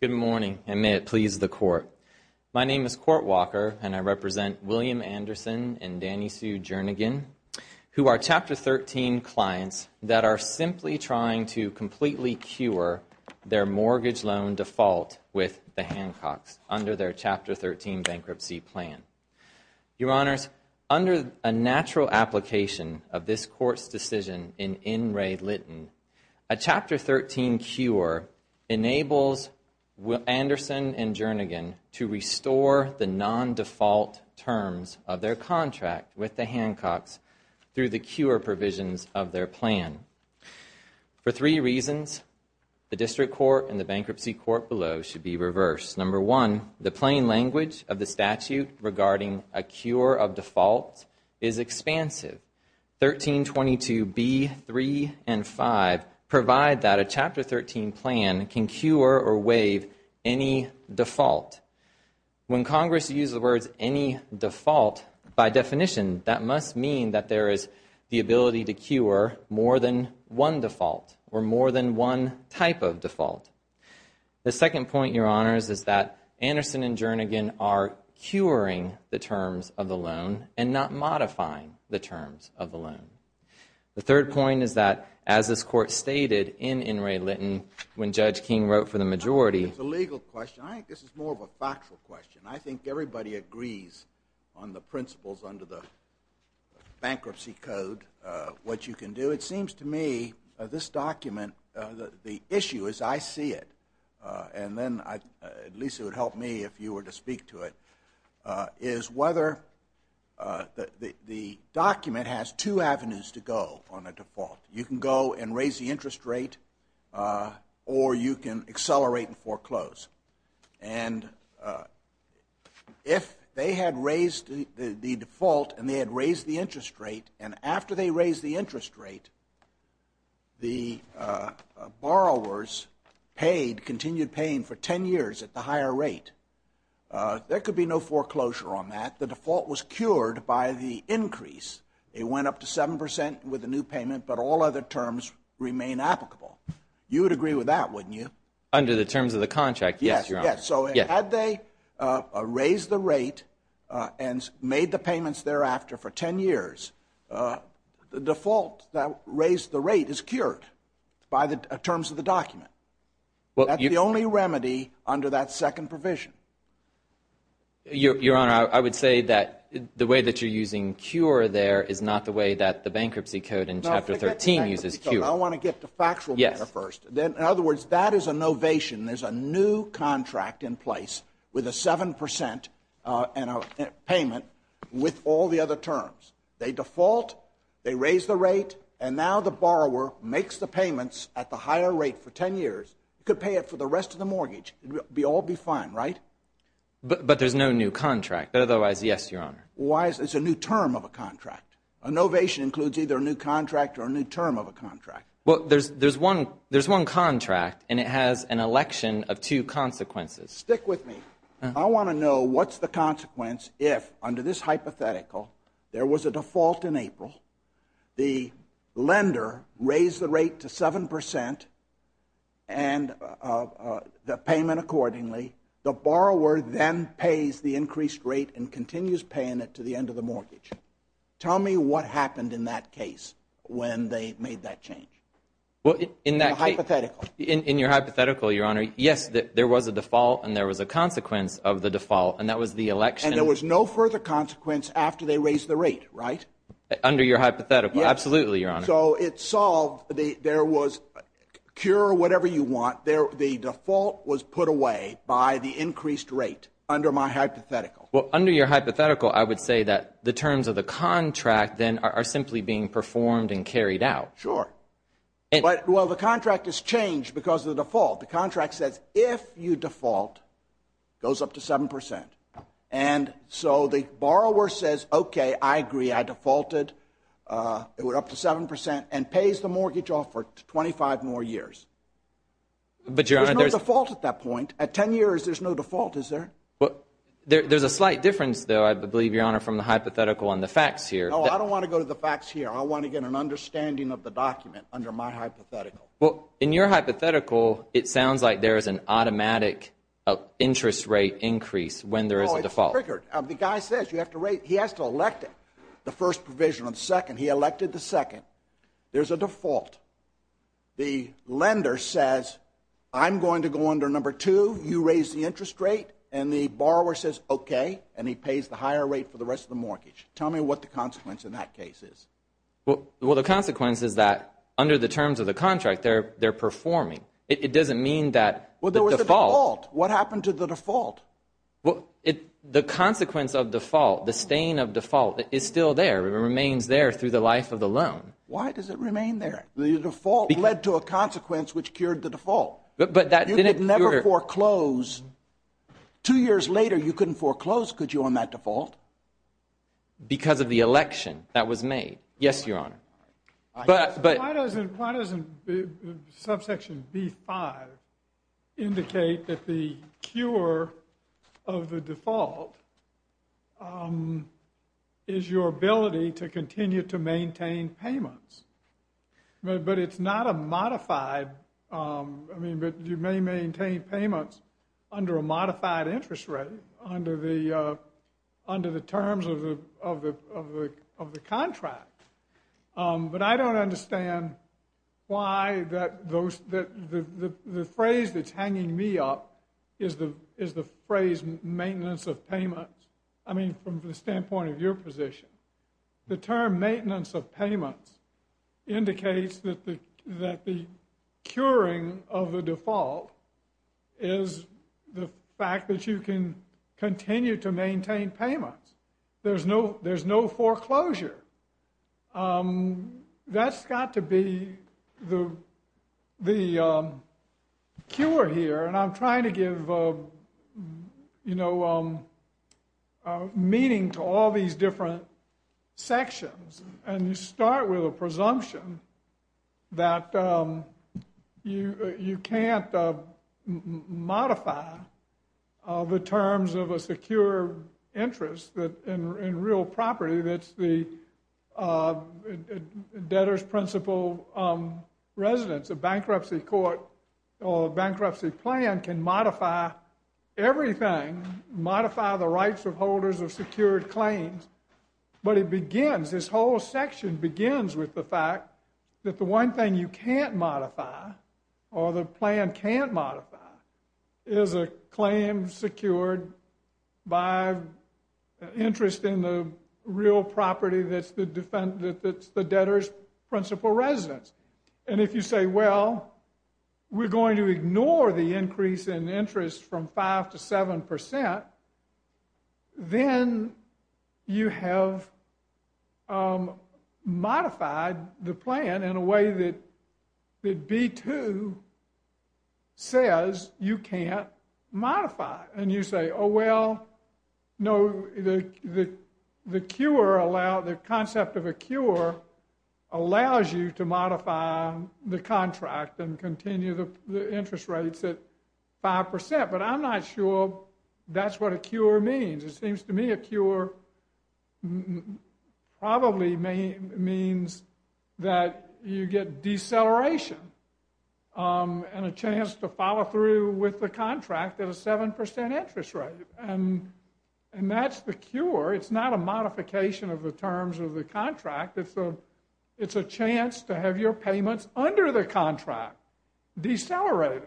Good morning, and may it please the Court. My name is Court Walker, and I represent William Anderson and Danny Sue Jernigan, who are Chapter 13 clients that are simply trying to completely cure their mortgage loan default with the Hancocks under their Chapter 13 bankruptcy plan. Your Honors, under a natural application of this Court's decision in N. Ray Litton, a Chapter 13 cure enables Anderson and Jernigan to restore the non-default terms of their contract with the Hancocks through the cure provisions of their plan. For three reasons, the District Court and the Bankruptcy Court below should be reversed. Number one, the plain language of the statute regarding a cure of default is expansive. 1322B, 3, and 5 provide that a Chapter 13 plan can cure or waive any default. When Congress uses the words any default, by definition, that must mean that there is the ability to cure more than one default or more than one type of default. The second point, Your Honors, is that Anderson and Jernigan are curing the terms of the loan and not modifying the terms of the loan. The third point is that, as this Court stated in N. Ray Litton, when Judge King wrote for the majority. It's a legal question. I think this is more of a factual question. I think everybody agrees on the principles under the Bankruptcy Code, what you can do. It seems to me this document, the issue as I see it, and then at least it would help me if you were to speak to it, is whether the document has two avenues to go on a default. You can go and raise the interest rate or you can accelerate and foreclose. If they had raised the default and they had raised the interest rate, and after they raised the interest rate, the borrowers paid, continued paying for 10 years at the higher rate, there could be no foreclosure on that. The default was cured by the increase. It went up to 7 percent with the new payment, but all other terms remain applicable. You would agree with that, wouldn't you? Under the terms of the contract, yes, Your Honor. Yes. So had they raised the rate and made the payments thereafter for 10 years, the default that raised the rate is cured by the terms of the document. That's the only remedy under that second provision. Your Honor, I would say that the way that you're using cure there is not the way that the Bankruptcy Code in Chapter 13 uses cure. I want to get to factual matter first. In other words, that is a novation. There's a new contract in place with a 7 percent payment with all the other terms. They default, they raise the rate, and now the borrower makes the payments at the higher rate for 10 years. You could pay it for the rest of the mortgage. It would all be fine, right? But there's no new contract. But otherwise, yes, Your Honor. Why is it? It's a new term of a contract. A novation includes either a new contract or a new term of a contract. Well, there's one contract, and it has an election of two consequences. Stick with me. I want to know what's the consequence if, under this hypothetical, there was a default in April, the lender raised the rate to 7 percent and the payment accordingly, the borrower then pays the increased rate and continues paying it to the end of the mortgage. Tell me what happened in that case when they made that change. In the hypothetical. In your hypothetical, Your Honor, yes, there was a default, and there was a consequence of the default, and that was the election. And there was no further consequence after they raised the rate, right? Under your hypothetical. Absolutely, Your Honor. So it's solved. There was, cure whatever you want, the default was put away by the increased rate under my hypothetical. Well, under your hypothetical, I would say that the terms of the contract then are simply being performed and carried out. Sure. But, well, the contract is changed because of the default. The contract says if you default, it goes up to 7 percent. And so the borrower says, okay, I agree, I defaulted, it went up to 7 percent and pays the mortgage off for 25 more years. But Your Honor, there's no default at that point. At 10 years, there's no default, is there? There's a slight difference, though, I believe, Your Honor, from the hypothetical on the facts here. No, I don't want to go to the facts here. I want to get an understanding of the document under my hypothetical. Well, in your hypothetical, it sounds like there is an automatic interest rate increase when there is a default. Oh, it's triggered. The guy says you have to raise, he has to elect the first provision on the second. He elected the second. There's a default. The lender says, I'm going to go under number two, you raise the interest rate, and the borrower says, okay, and he pays the higher rate for the rest of the mortgage. Tell me what the consequence in that case is. Well, the consequence is that under the terms of the contract, they're performing. It doesn't mean that the default. What happened to the default? The consequence of default, the stain of default, is still there, it remains there through the life of the loan. Why does it remain there? The default led to a consequence which cured the default. But that didn't cure- You could never foreclose. Two years later, you couldn't foreclose, could you, on that default? Because of the election that was made. Yes, Your Honor. But- Why doesn't subsection B5 indicate that the cure of the default is your ability to continue to maintain payments? But it's not a modified- I mean, but you may maintain payments under a modified interest rate under the terms of the contract. But I don't understand why that- the phrase that's hanging me up is the phrase maintenance of payments, I mean, from the standpoint of your position. The term maintenance of payments indicates that the curing of the default is the fact that you can continue to maintain payments. There's no foreclosure. That's got to be the cure here. And I'm trying to give, you know, meaning to all these different sections. And you start with a presumption that you can't modify the terms of a secure interest that in real property, that's the debtor's principal residence, a bankruptcy court or bankruptcy plan can modify everything, modify the rights of holders of secured claims. But it begins, this whole section begins with the fact that the one thing you can't modify or the plan can't modify is a claim secured by interest in the real property that's the debtor's principal residence. And if you say, well, we're going to ignore the increase in interest from 5% to 7%, then you have modified the plan in a way that B-2 says you can't modify. And you say, oh, well, no, the concept of a cure allows you to modify the contract and continue the interest rates at 5%. But I'm not sure that's what a cure means. It seems to me a cure probably means that you get deceleration and a chance to follow through with the contract at a 7% interest rate. And that's the cure. It's not a modification of the terms of the contract. It's a chance to have your payments under the contract decelerated.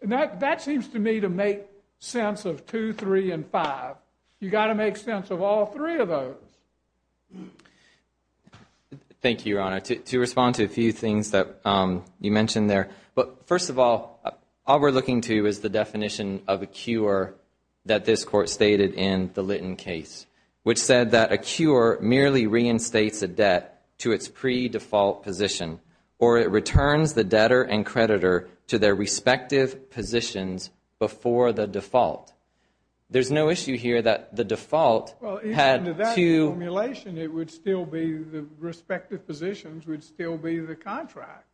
And that seems to me to make sense of 2, 3, and 5. You've got to make sense of all three of those. Thank you, Your Honor. To respond to a few things that you mentioned there, first of all, all we're looking to is the definition of a cure that this Court stated in the Litton case, which said that a cure merely reinstates a debt to its pre-default position or it returns the debtor and creditor to their respective positions before the default. There's no issue here that the default had to- Well, even to that formulation, it would still be the respective positions would still be the contract.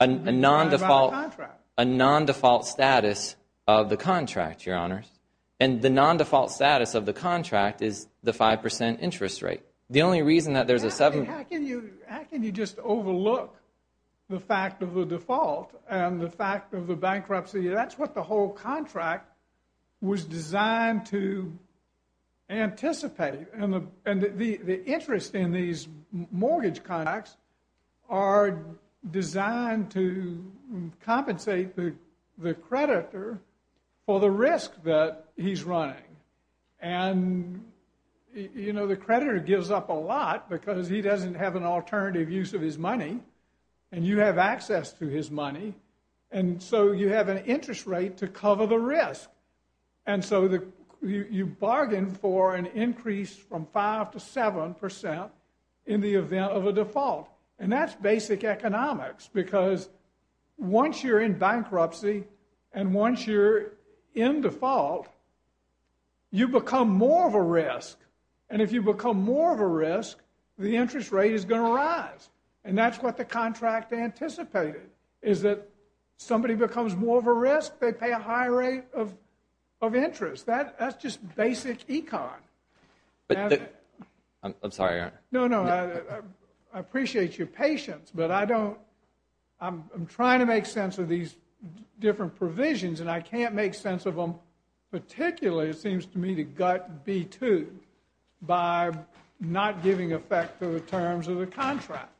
A non-default status of the contract, Your Honors. And the non-default status of the contract is the 5% interest rate. The only reason that there's a 7- How can you just overlook the fact of the default and the fact of the bankruptcy? That's what the whole contract was designed to anticipate. And the interest in these mortgage contracts are designed to compensate the creditor for the risk that he's running. And the creditor gives up a lot because he doesn't have an alternative use of his money and you have access to his money. And so you have an interest rate to cover the risk. And so you bargain for an increase from 5% to 7% in the event of a default. And that's basic economics because once you're in bankruptcy and once you're in default, you become more of a risk. And if you become more of a risk, the interest rate is going to rise. And that's what the contract anticipated is that somebody becomes more of a risk, they pay a higher rate of interest. That's just basic econ. I'm sorry, Your Honor. No, no. I appreciate your patience, but I don't- I'm trying to make sense of these different provisions and I can't make sense of them particularly it seems to me to gut B-2 by not giving effect to the terms of the contract.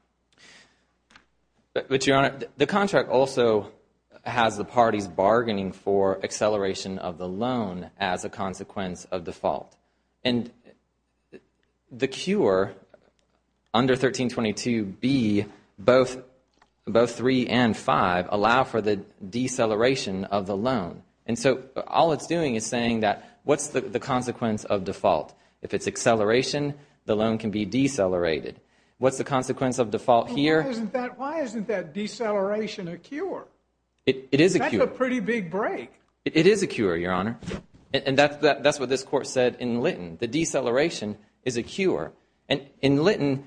But Your Honor, the contract also has the parties bargaining for acceleration of the loan as a consequence of default. And the cure under 1322B, both 3 and 5 allow for the deceleration of the loan. And so all it's doing is saying that what's the consequence of default? If it's acceleration, the loan can be decelerated. What's the consequence of default here? Why isn't that deceleration a cure? It is a cure. That's a pretty big break. It is a cure, Your Honor. And that's what this court said in Litton. The deceleration is a cure. And in Litton,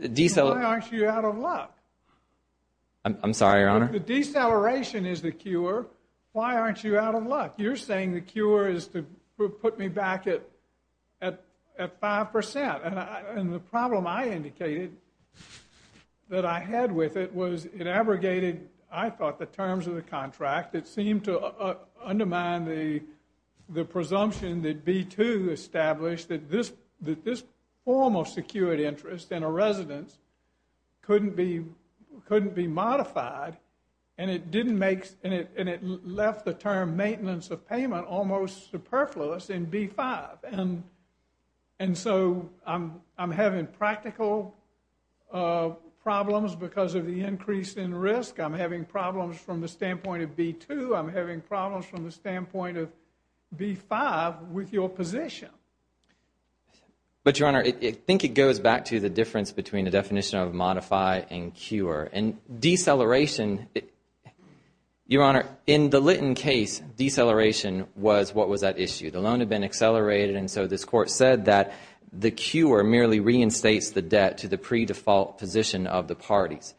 deceler- Why aren't you out of luck? I'm sorry, Your Honor. The deceleration is the cure. Why aren't you out of luck? You're saying the cure is to put me back at 5%. And the problem I indicated that I had with it was it abrogated, I thought, the terms of the contract that seemed to undermine the presumption that B-2 established that this formal secured interest in a residence couldn't be modified. And it didn't make- and it left the term maintenance of payment almost superfluous in B-5. And so I'm having practical problems because of the increase in risk. I'm having problems from the standpoint of B-2. I'm having problems from the standpoint of B-5 with your position. But, Your Honor, I think it goes back to the difference between the definition of modify and cure. And deceleration- Your Honor, in the Litton case, deceleration was what was at issue. The loan had been accelerated. And so this court said that the cure merely reinstates the debt to the pre-default position of the parties.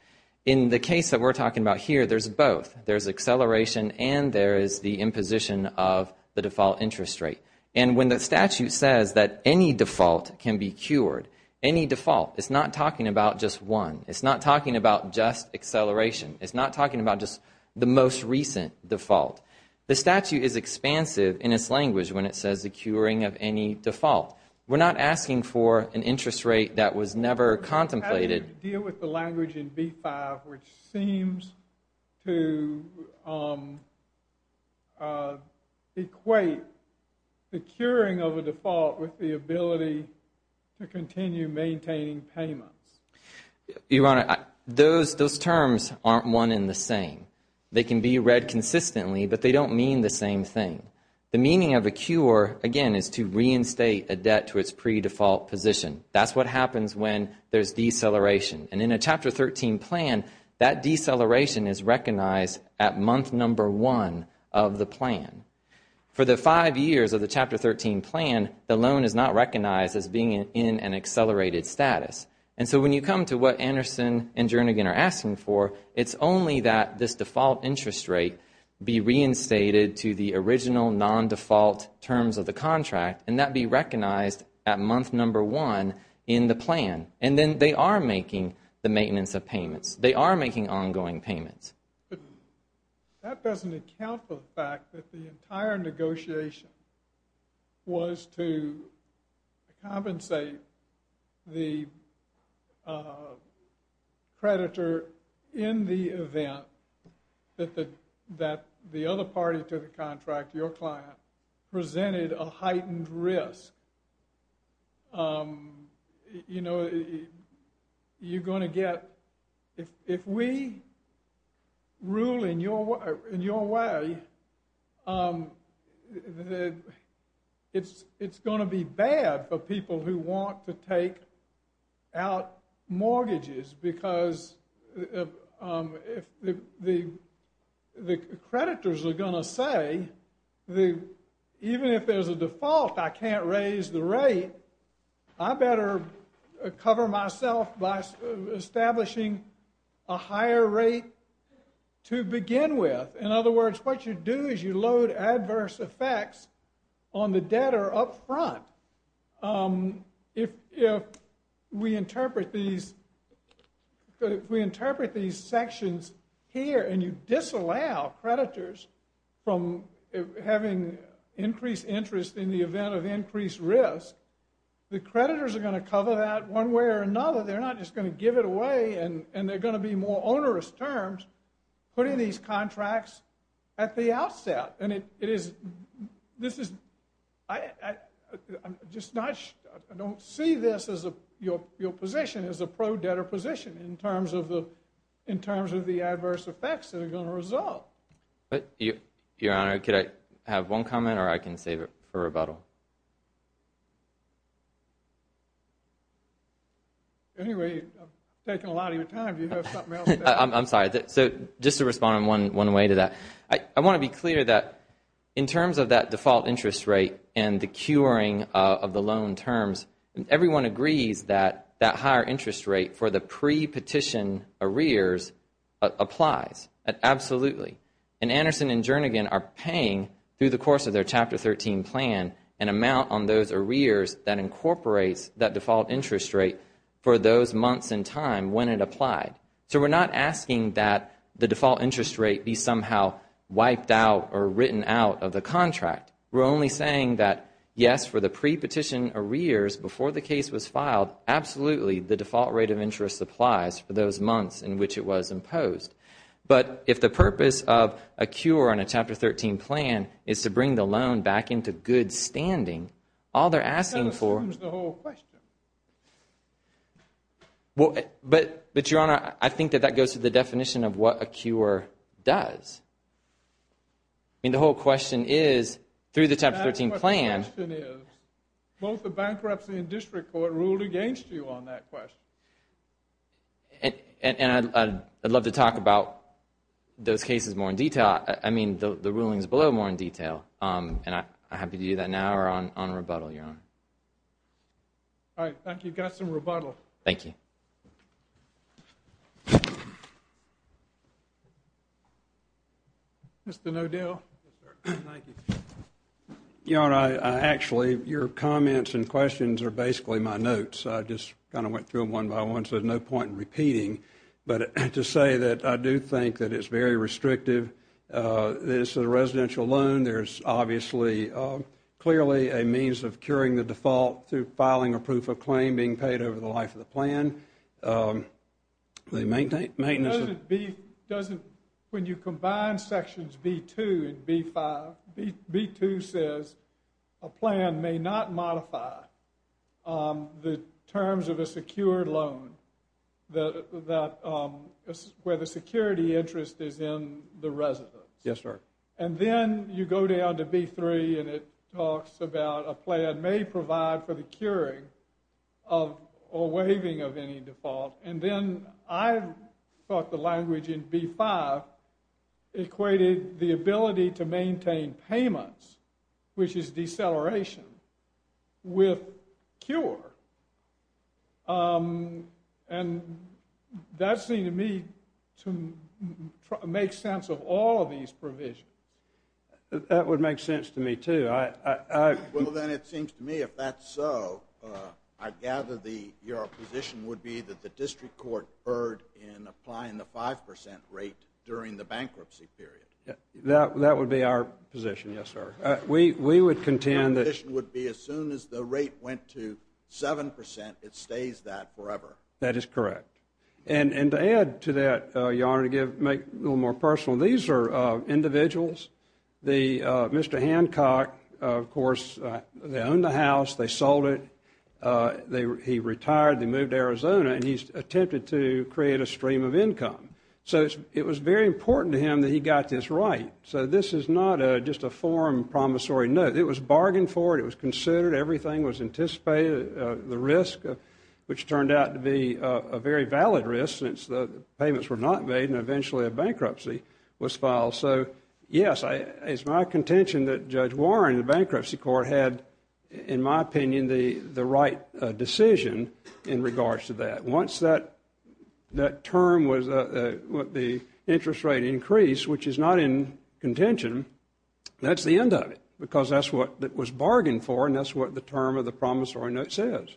In the case that we're talking about here, there's both. There's acceleration and there is the imposition of the default interest rate. And when the statute says that any default can be cured, any default, it's not talking about just one. It's not talking about just acceleration. It's not talking about just the most recent default. The statute is expansive in its language when it says the curing of any default. We're not asking for an interest rate that was never contemplated. You deal with the language in B-5, which seems to equate the curing of a default with the ability to continue maintaining payments. Your Honor, those terms aren't one and the same. They can be read consistently, but they don't mean the same thing. The meaning of a cure, again, is to reinstate a debt to its pre-default position. That's what happens when there's deceleration. And in a Chapter 13 plan, that deceleration is recognized at month number one of the plan. For the five years of the Chapter 13 plan, the loan is not recognized as being in an accelerated status. And so when you come to what Anderson and Jernigan are asking for, it's only that this default interest rate be reinstated to the original non-default terms of the contract and that be recognized at month number one in the plan. And then they are making the maintenance of payments. They are making ongoing payments. That doesn't account for the fact that the entire negotiation was to compensate the creditor in the event that the other party to the contract, your client, presented a heightened risk. If we rule in your way, it's going to be bad for people who want to take out mortgages because the creditors are going to say, even if there's a default, I can't raise the rate. I better cover myself by establishing a higher rate to begin with. In other words, what you do is you load adverse effects on the debtor up front. But if we interpret these sections here and you disallow creditors from having increased interest in the event of increased risk, the creditors are going to cover that one way or another. They're not just going to give it away and they're going to be more onerous terms putting these contracts at the outset. And I don't see your position as a pro-debtor position in terms of the adverse effects that are going to result. Your Honor, could I have one comment or I can save it for rebuttal? Anyway, I'm taking a lot of your time. Do you have something else to add? I'm sorry. So just to respond in one way to that. I want to be clear that in terms of that default interest rate and the curing of the loan terms, everyone agrees that that higher interest rate for the pre-petition arrears applies. Absolutely. And Anderson and Jernigan are paying, through the course of their Chapter 13 plan, an amount on those arrears that incorporates that default interest rate for those months in time when it applied. So we're not asking that the default interest rate be somehow wiped out or written out of the contract. We're only saying that, yes, for the pre-petition arrears before the case was filed, absolutely, the default rate of interest applies for those months in which it was imposed. But if the purpose of a cure on a Chapter 13 plan is to bring the loan back into good standing, all they're asking for— That assumes the whole question. Well, but, Your Honor, I think that that goes to the definition of what a cure does. I mean, the whole question is, through the Chapter 13 plan— That's what the question is. Both the bankruptcy and district court ruled against you on that question. And I'd love to talk about those cases more in detail. I mean, the rulings below more in detail. And I'm happy to do that now or on rebuttal, Your Honor. All right. Thank you. Got some rebuttal. Thank you. Mr. Nodale. Yes, sir. Thank you. Your Honor, I actually—your comments and questions are basically my notes. I just kind of went through them one by one, so there's no point in repeating. But to say that I do think that it's very restrictive. This is a residential loan. There's obviously clearly a means of curing the default through filing a proof of claim being paid over the life of the plan. They maintain— Does it be—doesn't—when you combine Sections B-2 and B-5, B-2 says a plan may not modify the terms of a secured loan that—where the security interest is in the residence. Yes, sir. And then you go down to B-3 and it talks about a plan may provide for the curing of or waiving of any default. And then I thought the language in B-5 equated the ability to maintain payments, which is deceleration, with cure. And that seemed to me to make sense of all of these provisions. That would make sense to me, too. I—I—I— Well, then it seems to me, if that's so, I gather the—your position would be that the district court erred in applying the 5 percent rate during the bankruptcy period. Yeah, that—that would be our position, yes, sir. We—we would contend that— It stays that forever. That is correct. And—and to add to that, Your Honor, to give—make a little more personal, these are individuals. The—Mr. Hancock, of course, they owned the house, they sold it, they—he retired, they moved to Arizona, and he's attempted to create a stream of income. So it's—it was very important to him that he got this right. So this is not a—just a forum promissory note. It was bargained for. It was considered. Everything was anticipated. The risk, which turned out to be a very valid risk, since the payments were not made, and eventually a bankruptcy was filed. So, yes, I—it's my contention that Judge Warren in the bankruptcy court had, in my opinion, the—the right decision in regards to that. Once that—that term was—the interest rate increased, which is not in contention, that's the end of it, because that's what it was bargained for, and that's what the term of the promissory note says.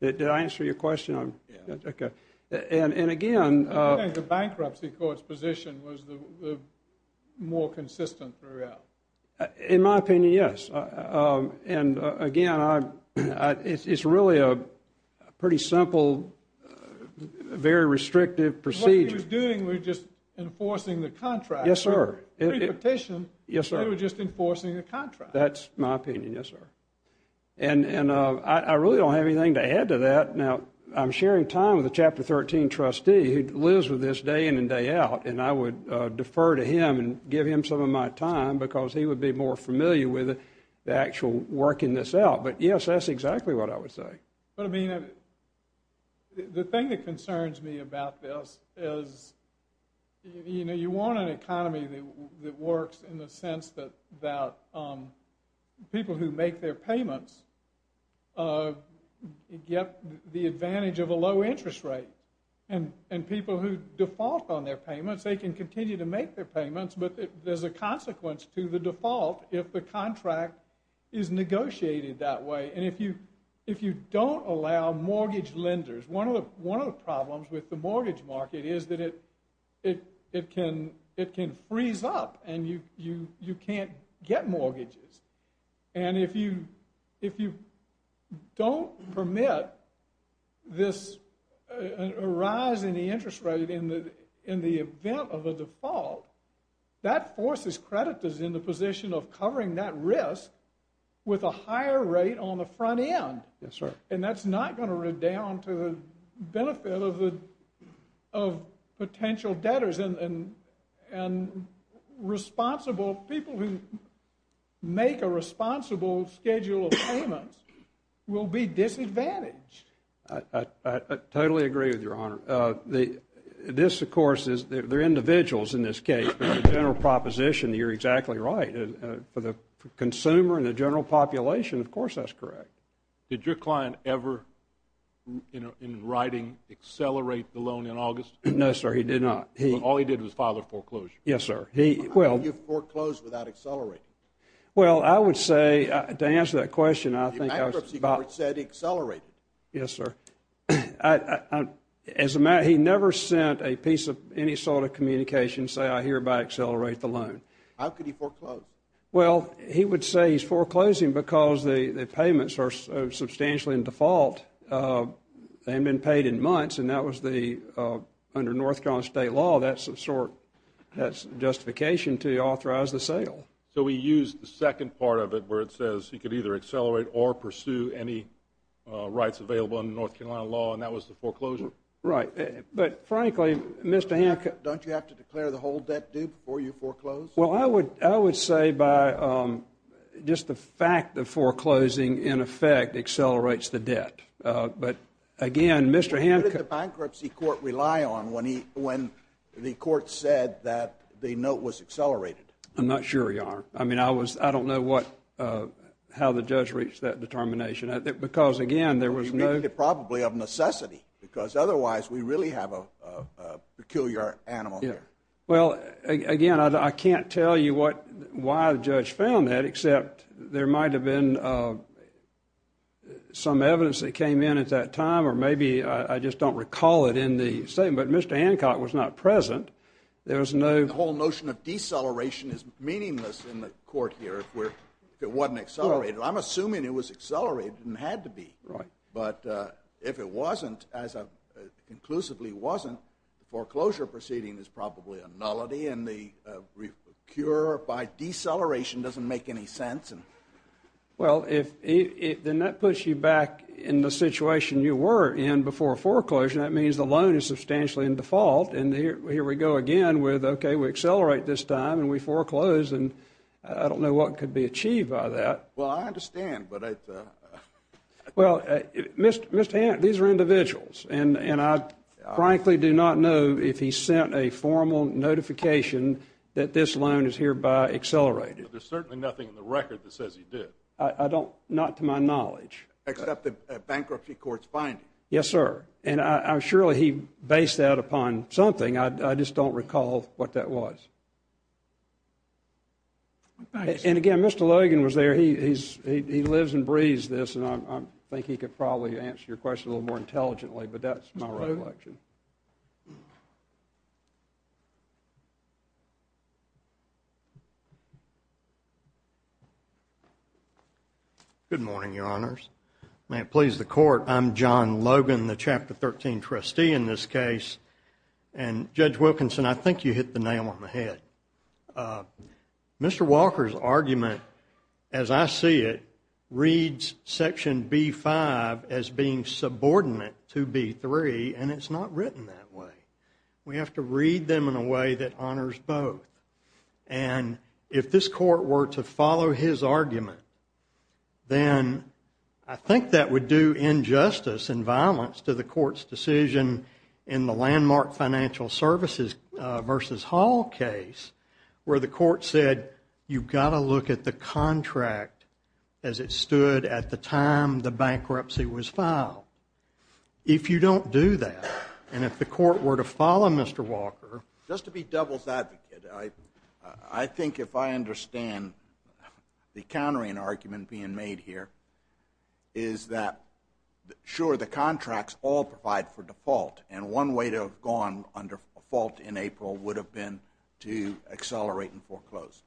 Did I answer your question? I'm— Yeah. Okay. And—and again— I think the bankruptcy court's position was the—the more consistent throughout. In my opinion, yes. And, again, I—I—it's really a pretty simple, very restrictive procedure. What he was doing was just enforcing the contract. Yes, sir. In the petition— Yes, sir. —they were just enforcing the contract. That's my opinion, yes, sir. And—and I—I really don't have anything to add to that. Now, I'm sharing time with a Chapter 13 trustee who lives with this day in and day out, and I would defer to him and give him some of my time, because he would be more familiar with the actual working this out. But, yes, that's exactly what I would say. But, I mean, the thing that concerns me about this is, you know, you want an economy that works in the sense that—that people who make their payments get the advantage of a low interest rate. And—and people who default on their payments, they can continue to make their payments, but there's a consequence to the default if the contract is negotiated that way. And if you—if you don't allow mortgage lenders— one of the problems with the mortgage market is that it—it—it can—it can freeze up, and you—you—you can't get mortgages. And if you—if you don't permit this rise in the interest rate in the—in the event of a default, that forces creditors in the position of covering that risk with a higher rate on the front end. Yes, sir. And that's not going to redound to the benefit of the—of potential debtors. And responsible—people who make a responsible schedule of payments will be disadvantaged. I—I—I totally agree with you, Your Honor. This, of course, is—they're individuals in this case, but the general proposition, you're exactly right. For the consumer and the general population, of course, that's correct. Did your client ever, you know, in writing, accelerate the loan in August? No, sir, he did not. He— All he did was file a foreclosure. Yes, sir. He—well— How could you foreclose without accelerating? Well, I would say, to answer that question, I think— The bankruptcy court said he accelerated. Yes, sir. As a matter—he never sent a piece of any sort of communication saying, I hereby accelerate the loan. How could he foreclose? Well, he would say he's foreclosing because the payments are substantially in default. They haven't been paid in months, and that was the—under North Carolina state law, that's a sort—that's justification to authorize the sale. So he used the second part of it where it says he could either accelerate or pursue any rights available under North Carolina law, and that was the foreclosure? Right. But, frankly, Mr. Ham— Don't you have to declare the whole debt due before you foreclose? Well, I would—I would say by just the fact the foreclosing, in effect, accelerates the debt. But, again, Mr. Ham— What did the bankruptcy court rely on when he—when the court said that the note was accelerated? I'm not sure, Your Honor. I mean, I was—I don't know what—how the judge reached that determination. Because, again, there was no— Well, he made it probably of necessity, because otherwise we really have a peculiar animal here. Well, again, I can't tell you what—why the judge found that, except there might have been some evidence that came in at that time, or maybe I just don't recall it in the statement. But Mr. Hancock was not present. There was no— The whole notion of deceleration is meaningless in the court here if we're—if it wasn't accelerated. I'm assuming it was accelerated and had to be. Right. But if it wasn't, as it conclusively wasn't, the foreclosure proceeding is probably a nullity, and the cure by deceleration doesn't make any sense. Well, if—then that puts you back in the situation you were in before foreclosure. That means the loan is substantially in default, and here we go again with, okay, we accelerate this time and we foreclose, and I don't know what could be achieved by that. Well, I understand, but I— Well, Mr. Hancock, these are individuals, and I frankly do not know if he sent a formal notification that this loan is hereby accelerated. There's certainly nothing in the record that says he did. I don't—not to my knowledge. Except the bankruptcy court's finding. Yes, sir. And surely he based that upon something. I just don't recall what that was. And again, Mr. Logan was there. He lives and breathes this, and I think he could probably answer your question a little more intelligently, but that's my recollection. Good morning, Your Honors. May it please the Court, I'm John Logan, the Chapter 13 trustee in this case. And Judge Wilkinson, I think you hit the nail on the head. Mr. Walker's argument, as I see it, reads Section B-5 as being subordinate to B-3, and it's not written that way. We have to read them in a way that honors both. And if this Court were to follow his argument, then I think that would do injustice and violence to the Court's decision in the landmark financial services versus Hall case, where the Court said, you've got to look at the contract as it stood at the time the bankruptcy was filed. If you don't do that, and if the Court were to follow Mr. Walker— being made here—is that, sure, the contracts all provide for default, and one way to have gone under default in April would have been to accelerate and foreclose.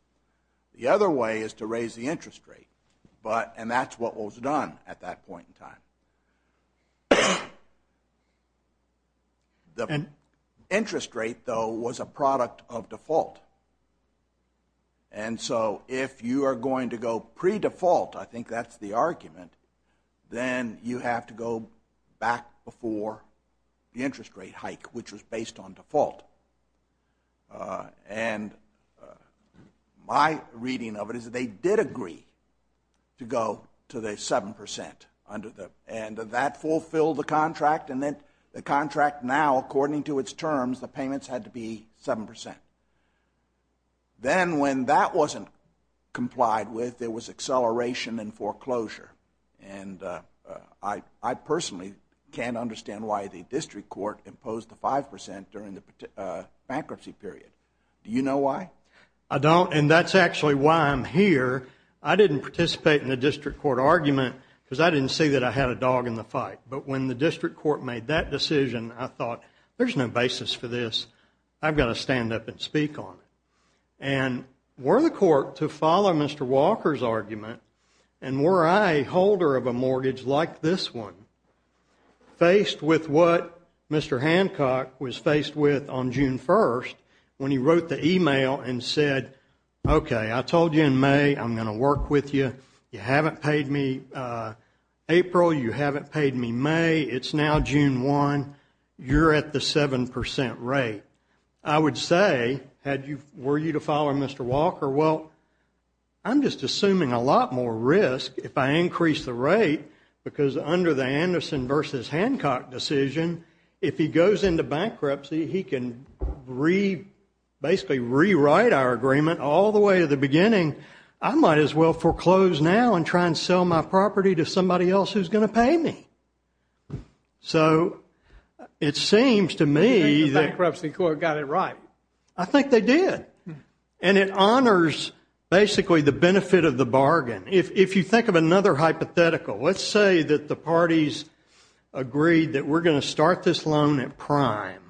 The other way is to raise the interest rate, and that's what was done at that point in time. The interest rate, though, was a product of default. And so, if you are going to go pre-default, I think that's the argument, then you have to go back before the interest rate hike, which was based on default. And my reading of it is that they did agree to go to the 7% under the— and that fulfilled the contract, and then the contract now, according to its terms, the payments had to be 7%. Then, when that wasn't complied with, there was acceleration and foreclosure. And I personally can't understand why the District Court imposed the 5% during the bankruptcy period. Do you know why? I don't, and that's actually why I'm here. I didn't participate in the District Court argument, because I didn't see that I had a dog in the fight. But when the District Court made that decision, I thought, there's no basis for this. I've got to stand up and speak on it. And were the court to follow Mr. Walker's argument, and were I a holder of a mortgage like this one, faced with what Mr. Hancock was faced with on June 1st, when he wrote the email and said, okay, I told you in May I'm going to work with you. You haven't paid me April. You haven't paid me May. It's now June 1. You're at the 7% rate. I would say, were you to follow Mr. Walker, well, I'm just assuming a lot more risk if I increase the rate, because under the Anderson versus Hancock decision, if he goes into bankruptcy, he can basically rewrite our agreement all the way to the beginning. I might as well foreclose now and try and sell my property to somebody else who's going to pay me. So, it seems to me that bankruptcy court got it right. I think they did. And it honors basically the benefit of the bargain. If you think of another hypothetical, let's say that the parties agreed that we're going to start this loan at prime.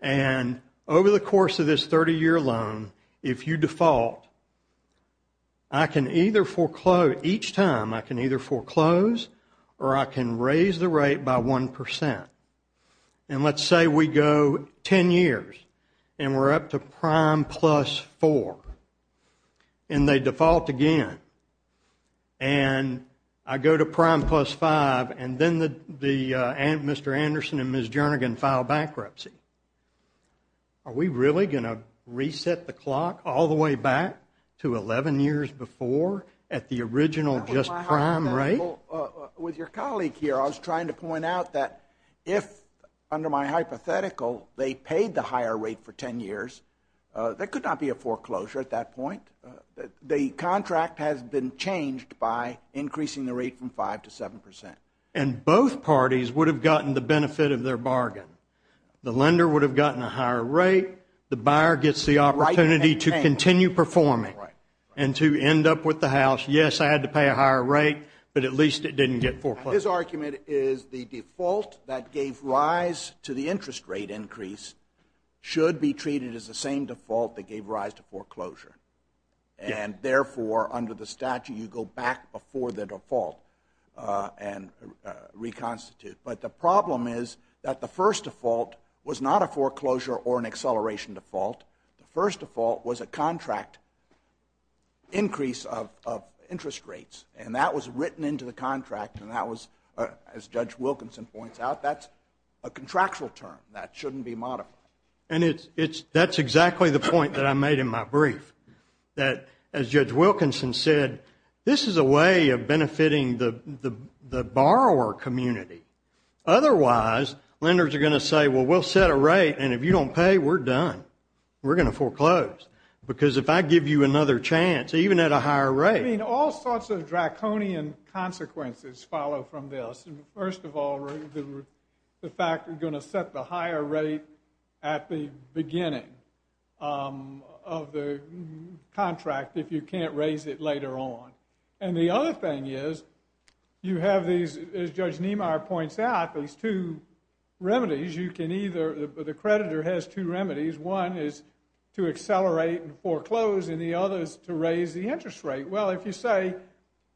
And over the course of this 30-year loan, if you default, I can either foreclose each time. I can either foreclose or I can raise the rate by 1%. And let's say we go 10 years and we're up to prime plus 4. And they default again. And I go to prime plus 5. And then Mr. Anderson and Ms. Jernigan file bankruptcy. Are we really going to reset the clock all the way back to 11 years before at the original just prime rate? With your colleague here, I was trying to point out that if, under my hypothetical, they paid the higher rate for 10 years, there could not be a foreclosure at that point. The contract has been changed by increasing the rate from 5% to 7%. And both parties would have gotten the benefit of their bargain. The lender would have gotten a higher rate. The buyer gets the opportunity to continue performing and to end up with the house, yes, I had to pay a higher rate, but at least it didn't get foreclosed. His argument is the default that gave rise to the interest rate increase should be treated as the same default that gave rise to foreclosure. And therefore, under the statute, you go back before the default and reconstitute. But the problem is that the first default was not a foreclosure or an acceleration default. The first default was a contract increase of interest rates. And that was written into the contract. And that was, as Judge Wilkinson points out, that's a contractual term that shouldn't be modified. And that's exactly the point that I made in my brief. That, as Judge Wilkinson said, this is a way of benefiting the borrower community. Otherwise, lenders are going to say, well, we'll set a rate. And if you don't pay, we're done. We're going to foreclose. Because if I give you another chance, even at a higher rate. I mean, all sorts of draconian consequences follow from this. First of all, the fact you're going to set the higher rate at the beginning of the contract if you can't raise it later on. And the other thing is, you have these, as Judge Niemeyer points out, these two remedies. You can either, the creditor has two remedies. One is to accelerate and foreclose. And the other is to raise the interest rate. Well, if you say,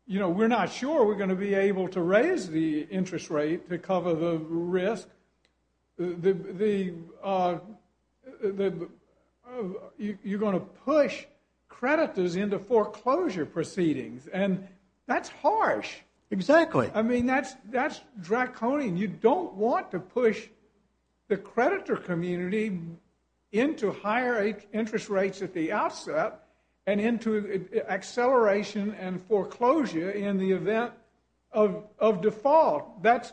we're not sure we're going to be able to raise the interest rate to cover the risk, you're going to push creditors into foreclosure proceedings. And that's harsh. Exactly. I mean, that's draconian. You don't want to push the creditor community into higher interest rates at the outset and into acceleration and foreclosure in the event of default. This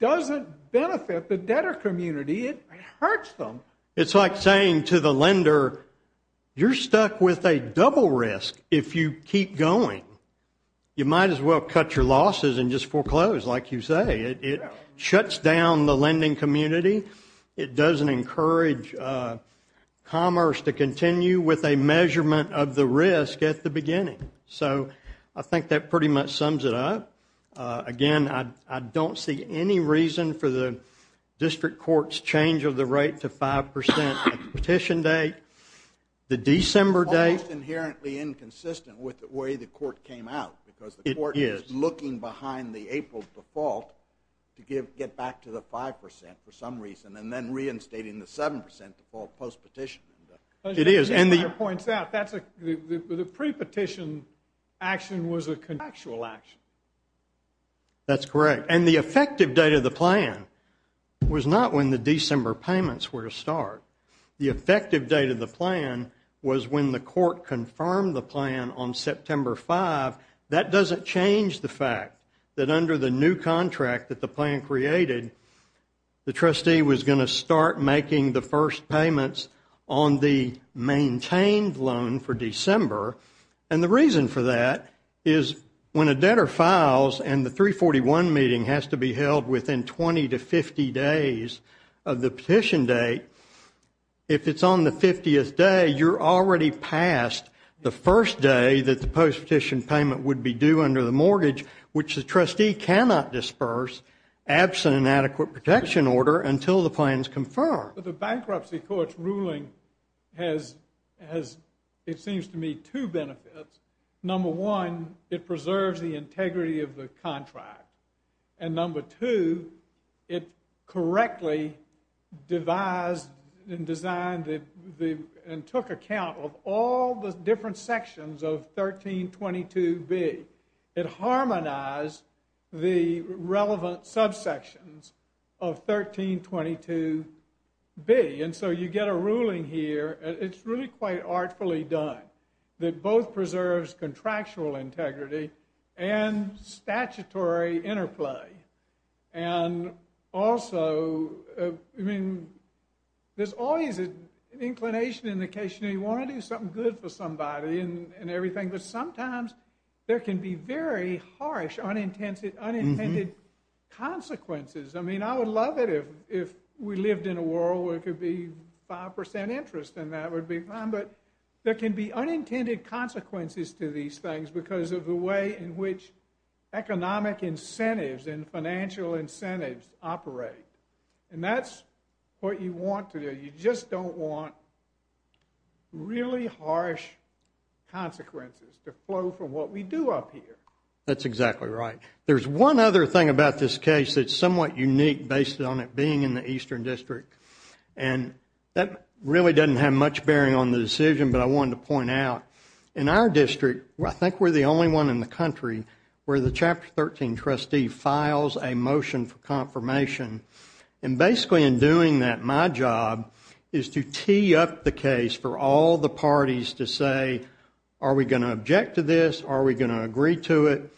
doesn't benefit the debtor community. It hurts them. It's like saying to the lender, you're stuck with a double risk if you keep going. You might as well cut your losses and just foreclose, like you say. It shuts down the lending community. It doesn't encourage commerce to continue with a measurement of the risk at the beginning. So I think that pretty much sums it up. Again, I don't see any reason for the district court's change of the rate to 5% at the petition date, the December date. It's inherently inconsistent with the way the court came out, because the court is looking behind the April default to get back to the 5% for some reason, and then reinstating the 7% default post-petition. The pre-petition action was a contractual action. That's correct. And the effective date of the plan was not when the December payments were to start. The effective date of the plan was when the court confirmed the plan on September 5. That doesn't change the fact that under the new contract that the plan created, the trustee was going to start making the first payments on the maintained loan for December. And the reason for that is when a debtor files, and the 341 meeting has to be held within 20 to 50 days of the petition date, if it's on the 50th day, you're already past the first day that the post-petition payment would be due under the mortgage, which the trustee cannot disperse absent an adequate protection order until the plan is confirmed. The bankruptcy court's ruling has, it seems to me, two benefits. Number one, it preserves the integrity of the contract. And number two, it correctly devised and designed and took account of all the different sections of 1322B. It harmonized the relevant subsections of 1322B. And so you get a ruling here, it's really quite artfully done, that both preserves contractual integrity and statutory interplay. And also, I mean, there's always an inclination in the case, you know, you want to do something good for somebody and everything, but sometimes there can be very harsh unintended consequences. I mean, I would love it if we lived in a world where it could be 5% interest and that would be fine, but there can be unintended consequences to these things because of the way in which economic incentives and financial incentives operate. And that's what you want to do. You just don't want really harsh consequences to flow from what we do up here. That's exactly right. There's one other thing about this case that's somewhat unique based on it being in the Eastern District. And that really doesn't have much bearing on the decision, but I wanted to point out in our district, I think we're the only one in the country where the Chapter 13 trustee files a motion for confirmation. And basically in doing that, my job is to tee up the case for all the parties to say, are we going to object to this? Are we going to agree to it?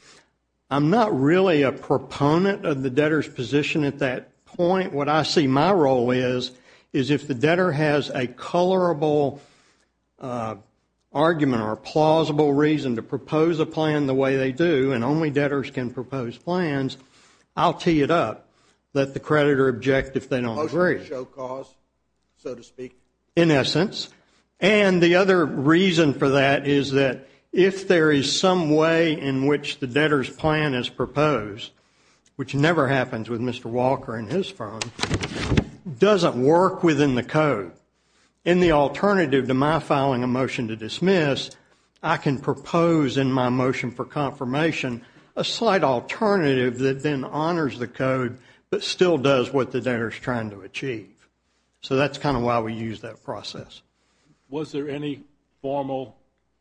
I'm not really a proponent of the debtor's position at that point. What I see my role is, is if the debtor has a colorable argument or plausible reason to propose a plan the way they do, and only debtors can propose plans, I'll tee it up, let the creditor object if they don't agree. Motion to show cause, so to speak. In essence. And the other reason for that is that if there is some way in which the debtor's plan is proposed, which never happens with Mr. Walker and his firm, doesn't work within the code, in the alternative to my filing a motion to dismiss, I can propose in my motion for confirmation a slight alternative that then honors the code, but still does what the debtor's trying to achieve. So that's kind of why we use that process. Was there any formal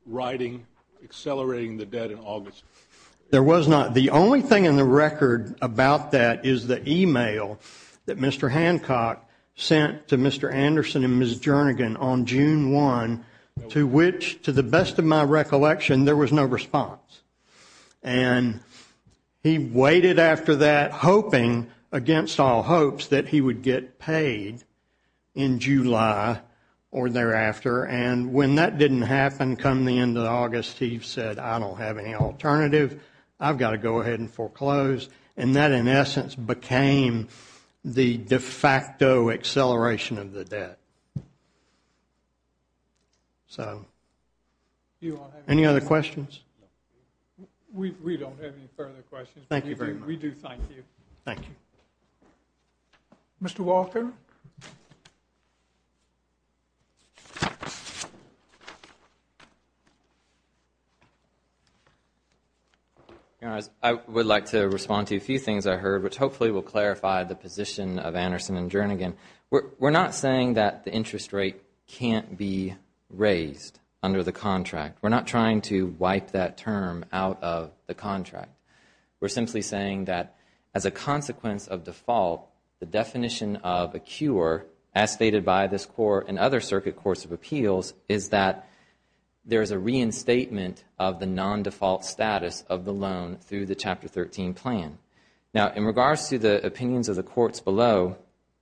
writing accelerating the debt in August? There was not. The only thing in the record about that is the email that Mr. Hancock sent to Mr. Anderson and Ms. Jernigan on June 1, to which, to the best of my recollection, there was no response. And he waited after that, hoping against all hopes that he would get paid in July or thereafter. And when that didn't happen come the end of August, he said, I don't have any alternative. I've got to go ahead and foreclose. And that, in essence, became the de facto acceleration of the debt. So, any other questions? We don't have any further questions. Thank you very much. We do thank you. Thank you. Mr. Walker? You know, I would like to respond to a few things I heard, which hopefully will clarify the position of Anderson and Jernigan. We're not saying that the interest rate can't be raised under the contract. We're not trying to wipe that term out of the contract. We're simply saying that as a consequence of default, the definition of a cure, as stated by this Court and other circuit courts of appeals, is that there is a reinstatement of the non-default status of the loan through the Chapter 13 plan. Now, in regards to the opinions of the courts below,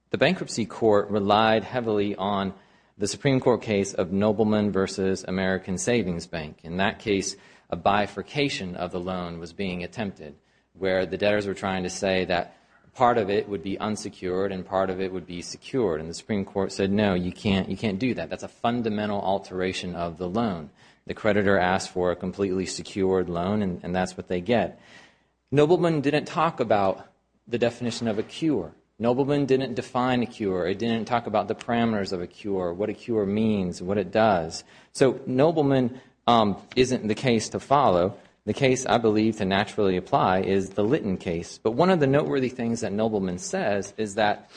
the Bankruptcy Court relied heavily on the Supreme Court case of Nobleman v. American Savings Bank. In that case, a bifurcation of the loan was being attempted, where the debtors were trying to say that part of it would be unsecured and part of it would be secured. And the Supreme Court said, no, you can't do that. That's a fundamental alteration of the loan. The creditor asked for a completely secured loan, and that's what they get. Nobleman didn't talk about the definition of a cure. Nobleman didn't define a cure. It didn't talk about the parameters of a cure, what a cure means, what it does. So Nobleman isn't the case to follow. The case, I believe, to naturally apply is the Litton case. But one of the noteworthy things that Nobleman says is that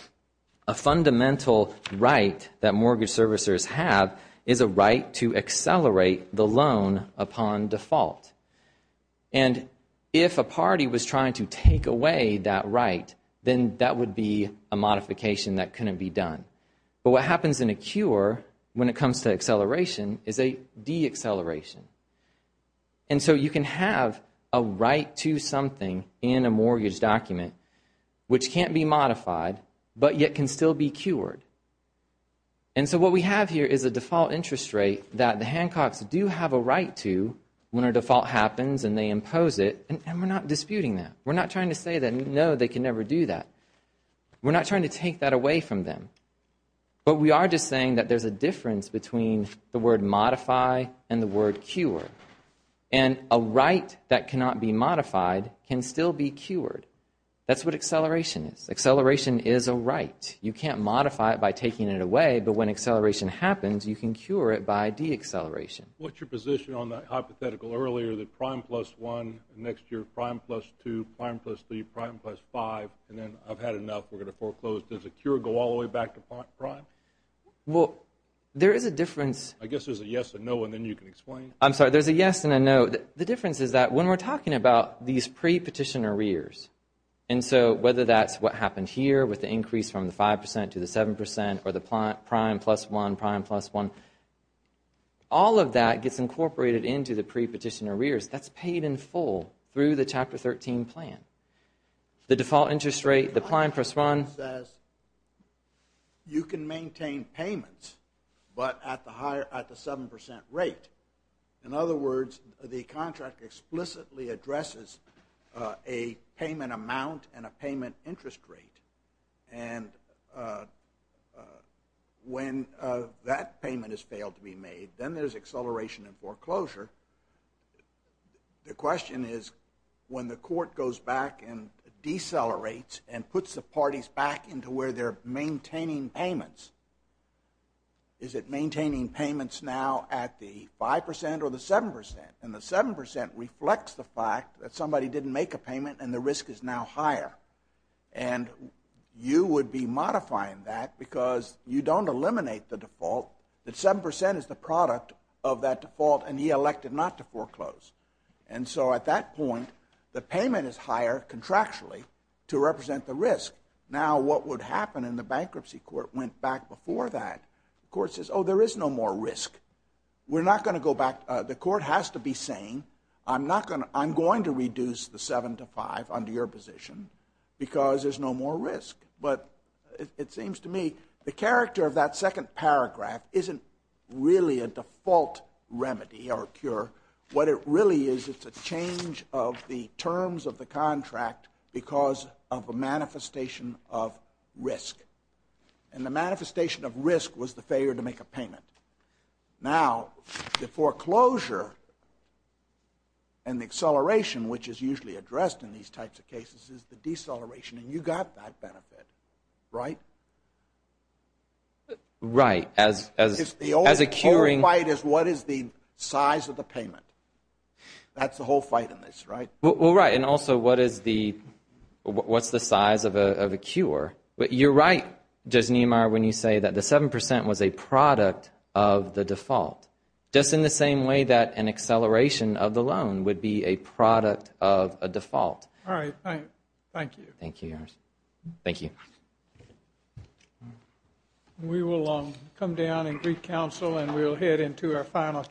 a fundamental right that mortgage servicers have is a right to accelerate the loan upon default. And if a party was trying to take away that right, then that would be a modification that couldn't be done. But what happens in a cure when it comes to acceleration is a de-acceleration. And so you can have a right to something in a mortgage document which can't be modified but yet can still be cured. And so what we have here is a default interest rate that the Hancocks do have a right to when a default happens and they impose it, and we're not disputing that. We're not trying to say that, no, they can never do that. We're not trying to take that away from them. But we are just saying that there's a difference between the word modify and the word cure. And a right that cannot be modified can still be cured. That's what acceleration is. Acceleration is a right. You can't modify it by taking it away, but when acceleration happens, you can cure it by de-acceleration. What's your position on that hypothetical earlier, the prime plus one, next year prime plus two, prime plus three, prime plus five, and then I've had enough, we're going to foreclose. Does a cure go all the way back to prime? Well, there is a difference. I guess there's a yes and no and then you can explain. I'm sorry, there's a yes and a no. The difference is that when we're talking about these pre-petition arrears, and so whether that's what happened here with the increase from the 5% to the 7% or the prime plus one, prime plus one, all of that gets incorporated into the pre-petition arrears. That's paid in full through the Chapter 13 plan. The default interest rate, the prime plus one. You can maintain payments, but at the 7% rate. In other words, the contract explicitly addresses a payment amount and a payment interest rate. And when that payment has failed to be made, then there's acceleration in foreclosure. The question is, when the court goes back and decelerates and puts the parties back into where they're maintaining payments, is it maintaining payments now at the 5% or the 7%? And the 7% reflects the fact that somebody didn't make a payment and the risk is now higher. And you would be modifying that because you don't eliminate the default. The 7% is the product of that default and he elected not to foreclose. And so at that point, the payment is higher contractually to represent the risk. Now what would happen in the bankruptcy court went back before that. The court says, oh, there is no more risk. We're not going to go back. The court has to be saying, I'm going to reduce the seven to five under your position because there's no more risk. But it seems to me the character of that second paragraph isn't really a default remedy or a cure. What it really is, it's a change of the terms of the contract because of a manifestation of risk. And the manifestation of risk was the failure to make a payment. Now, the foreclosure and the acceleration, which is usually addressed in these types of cases, is the deceleration. And you got that benefit. Right? Right. As a curing fight is what is the size of the payment? That's the whole fight in this, right? Well, right. And also, what's the size of a cure? You're right, Judge Niemeyer, when you say that the 7% was a product of the default. Just in the same way that an acceleration of the loan would be a product of a default. All right. Thank you. Thank you, Your Honor. Thank you. We will come down and brief counsel. And we'll head into our final case.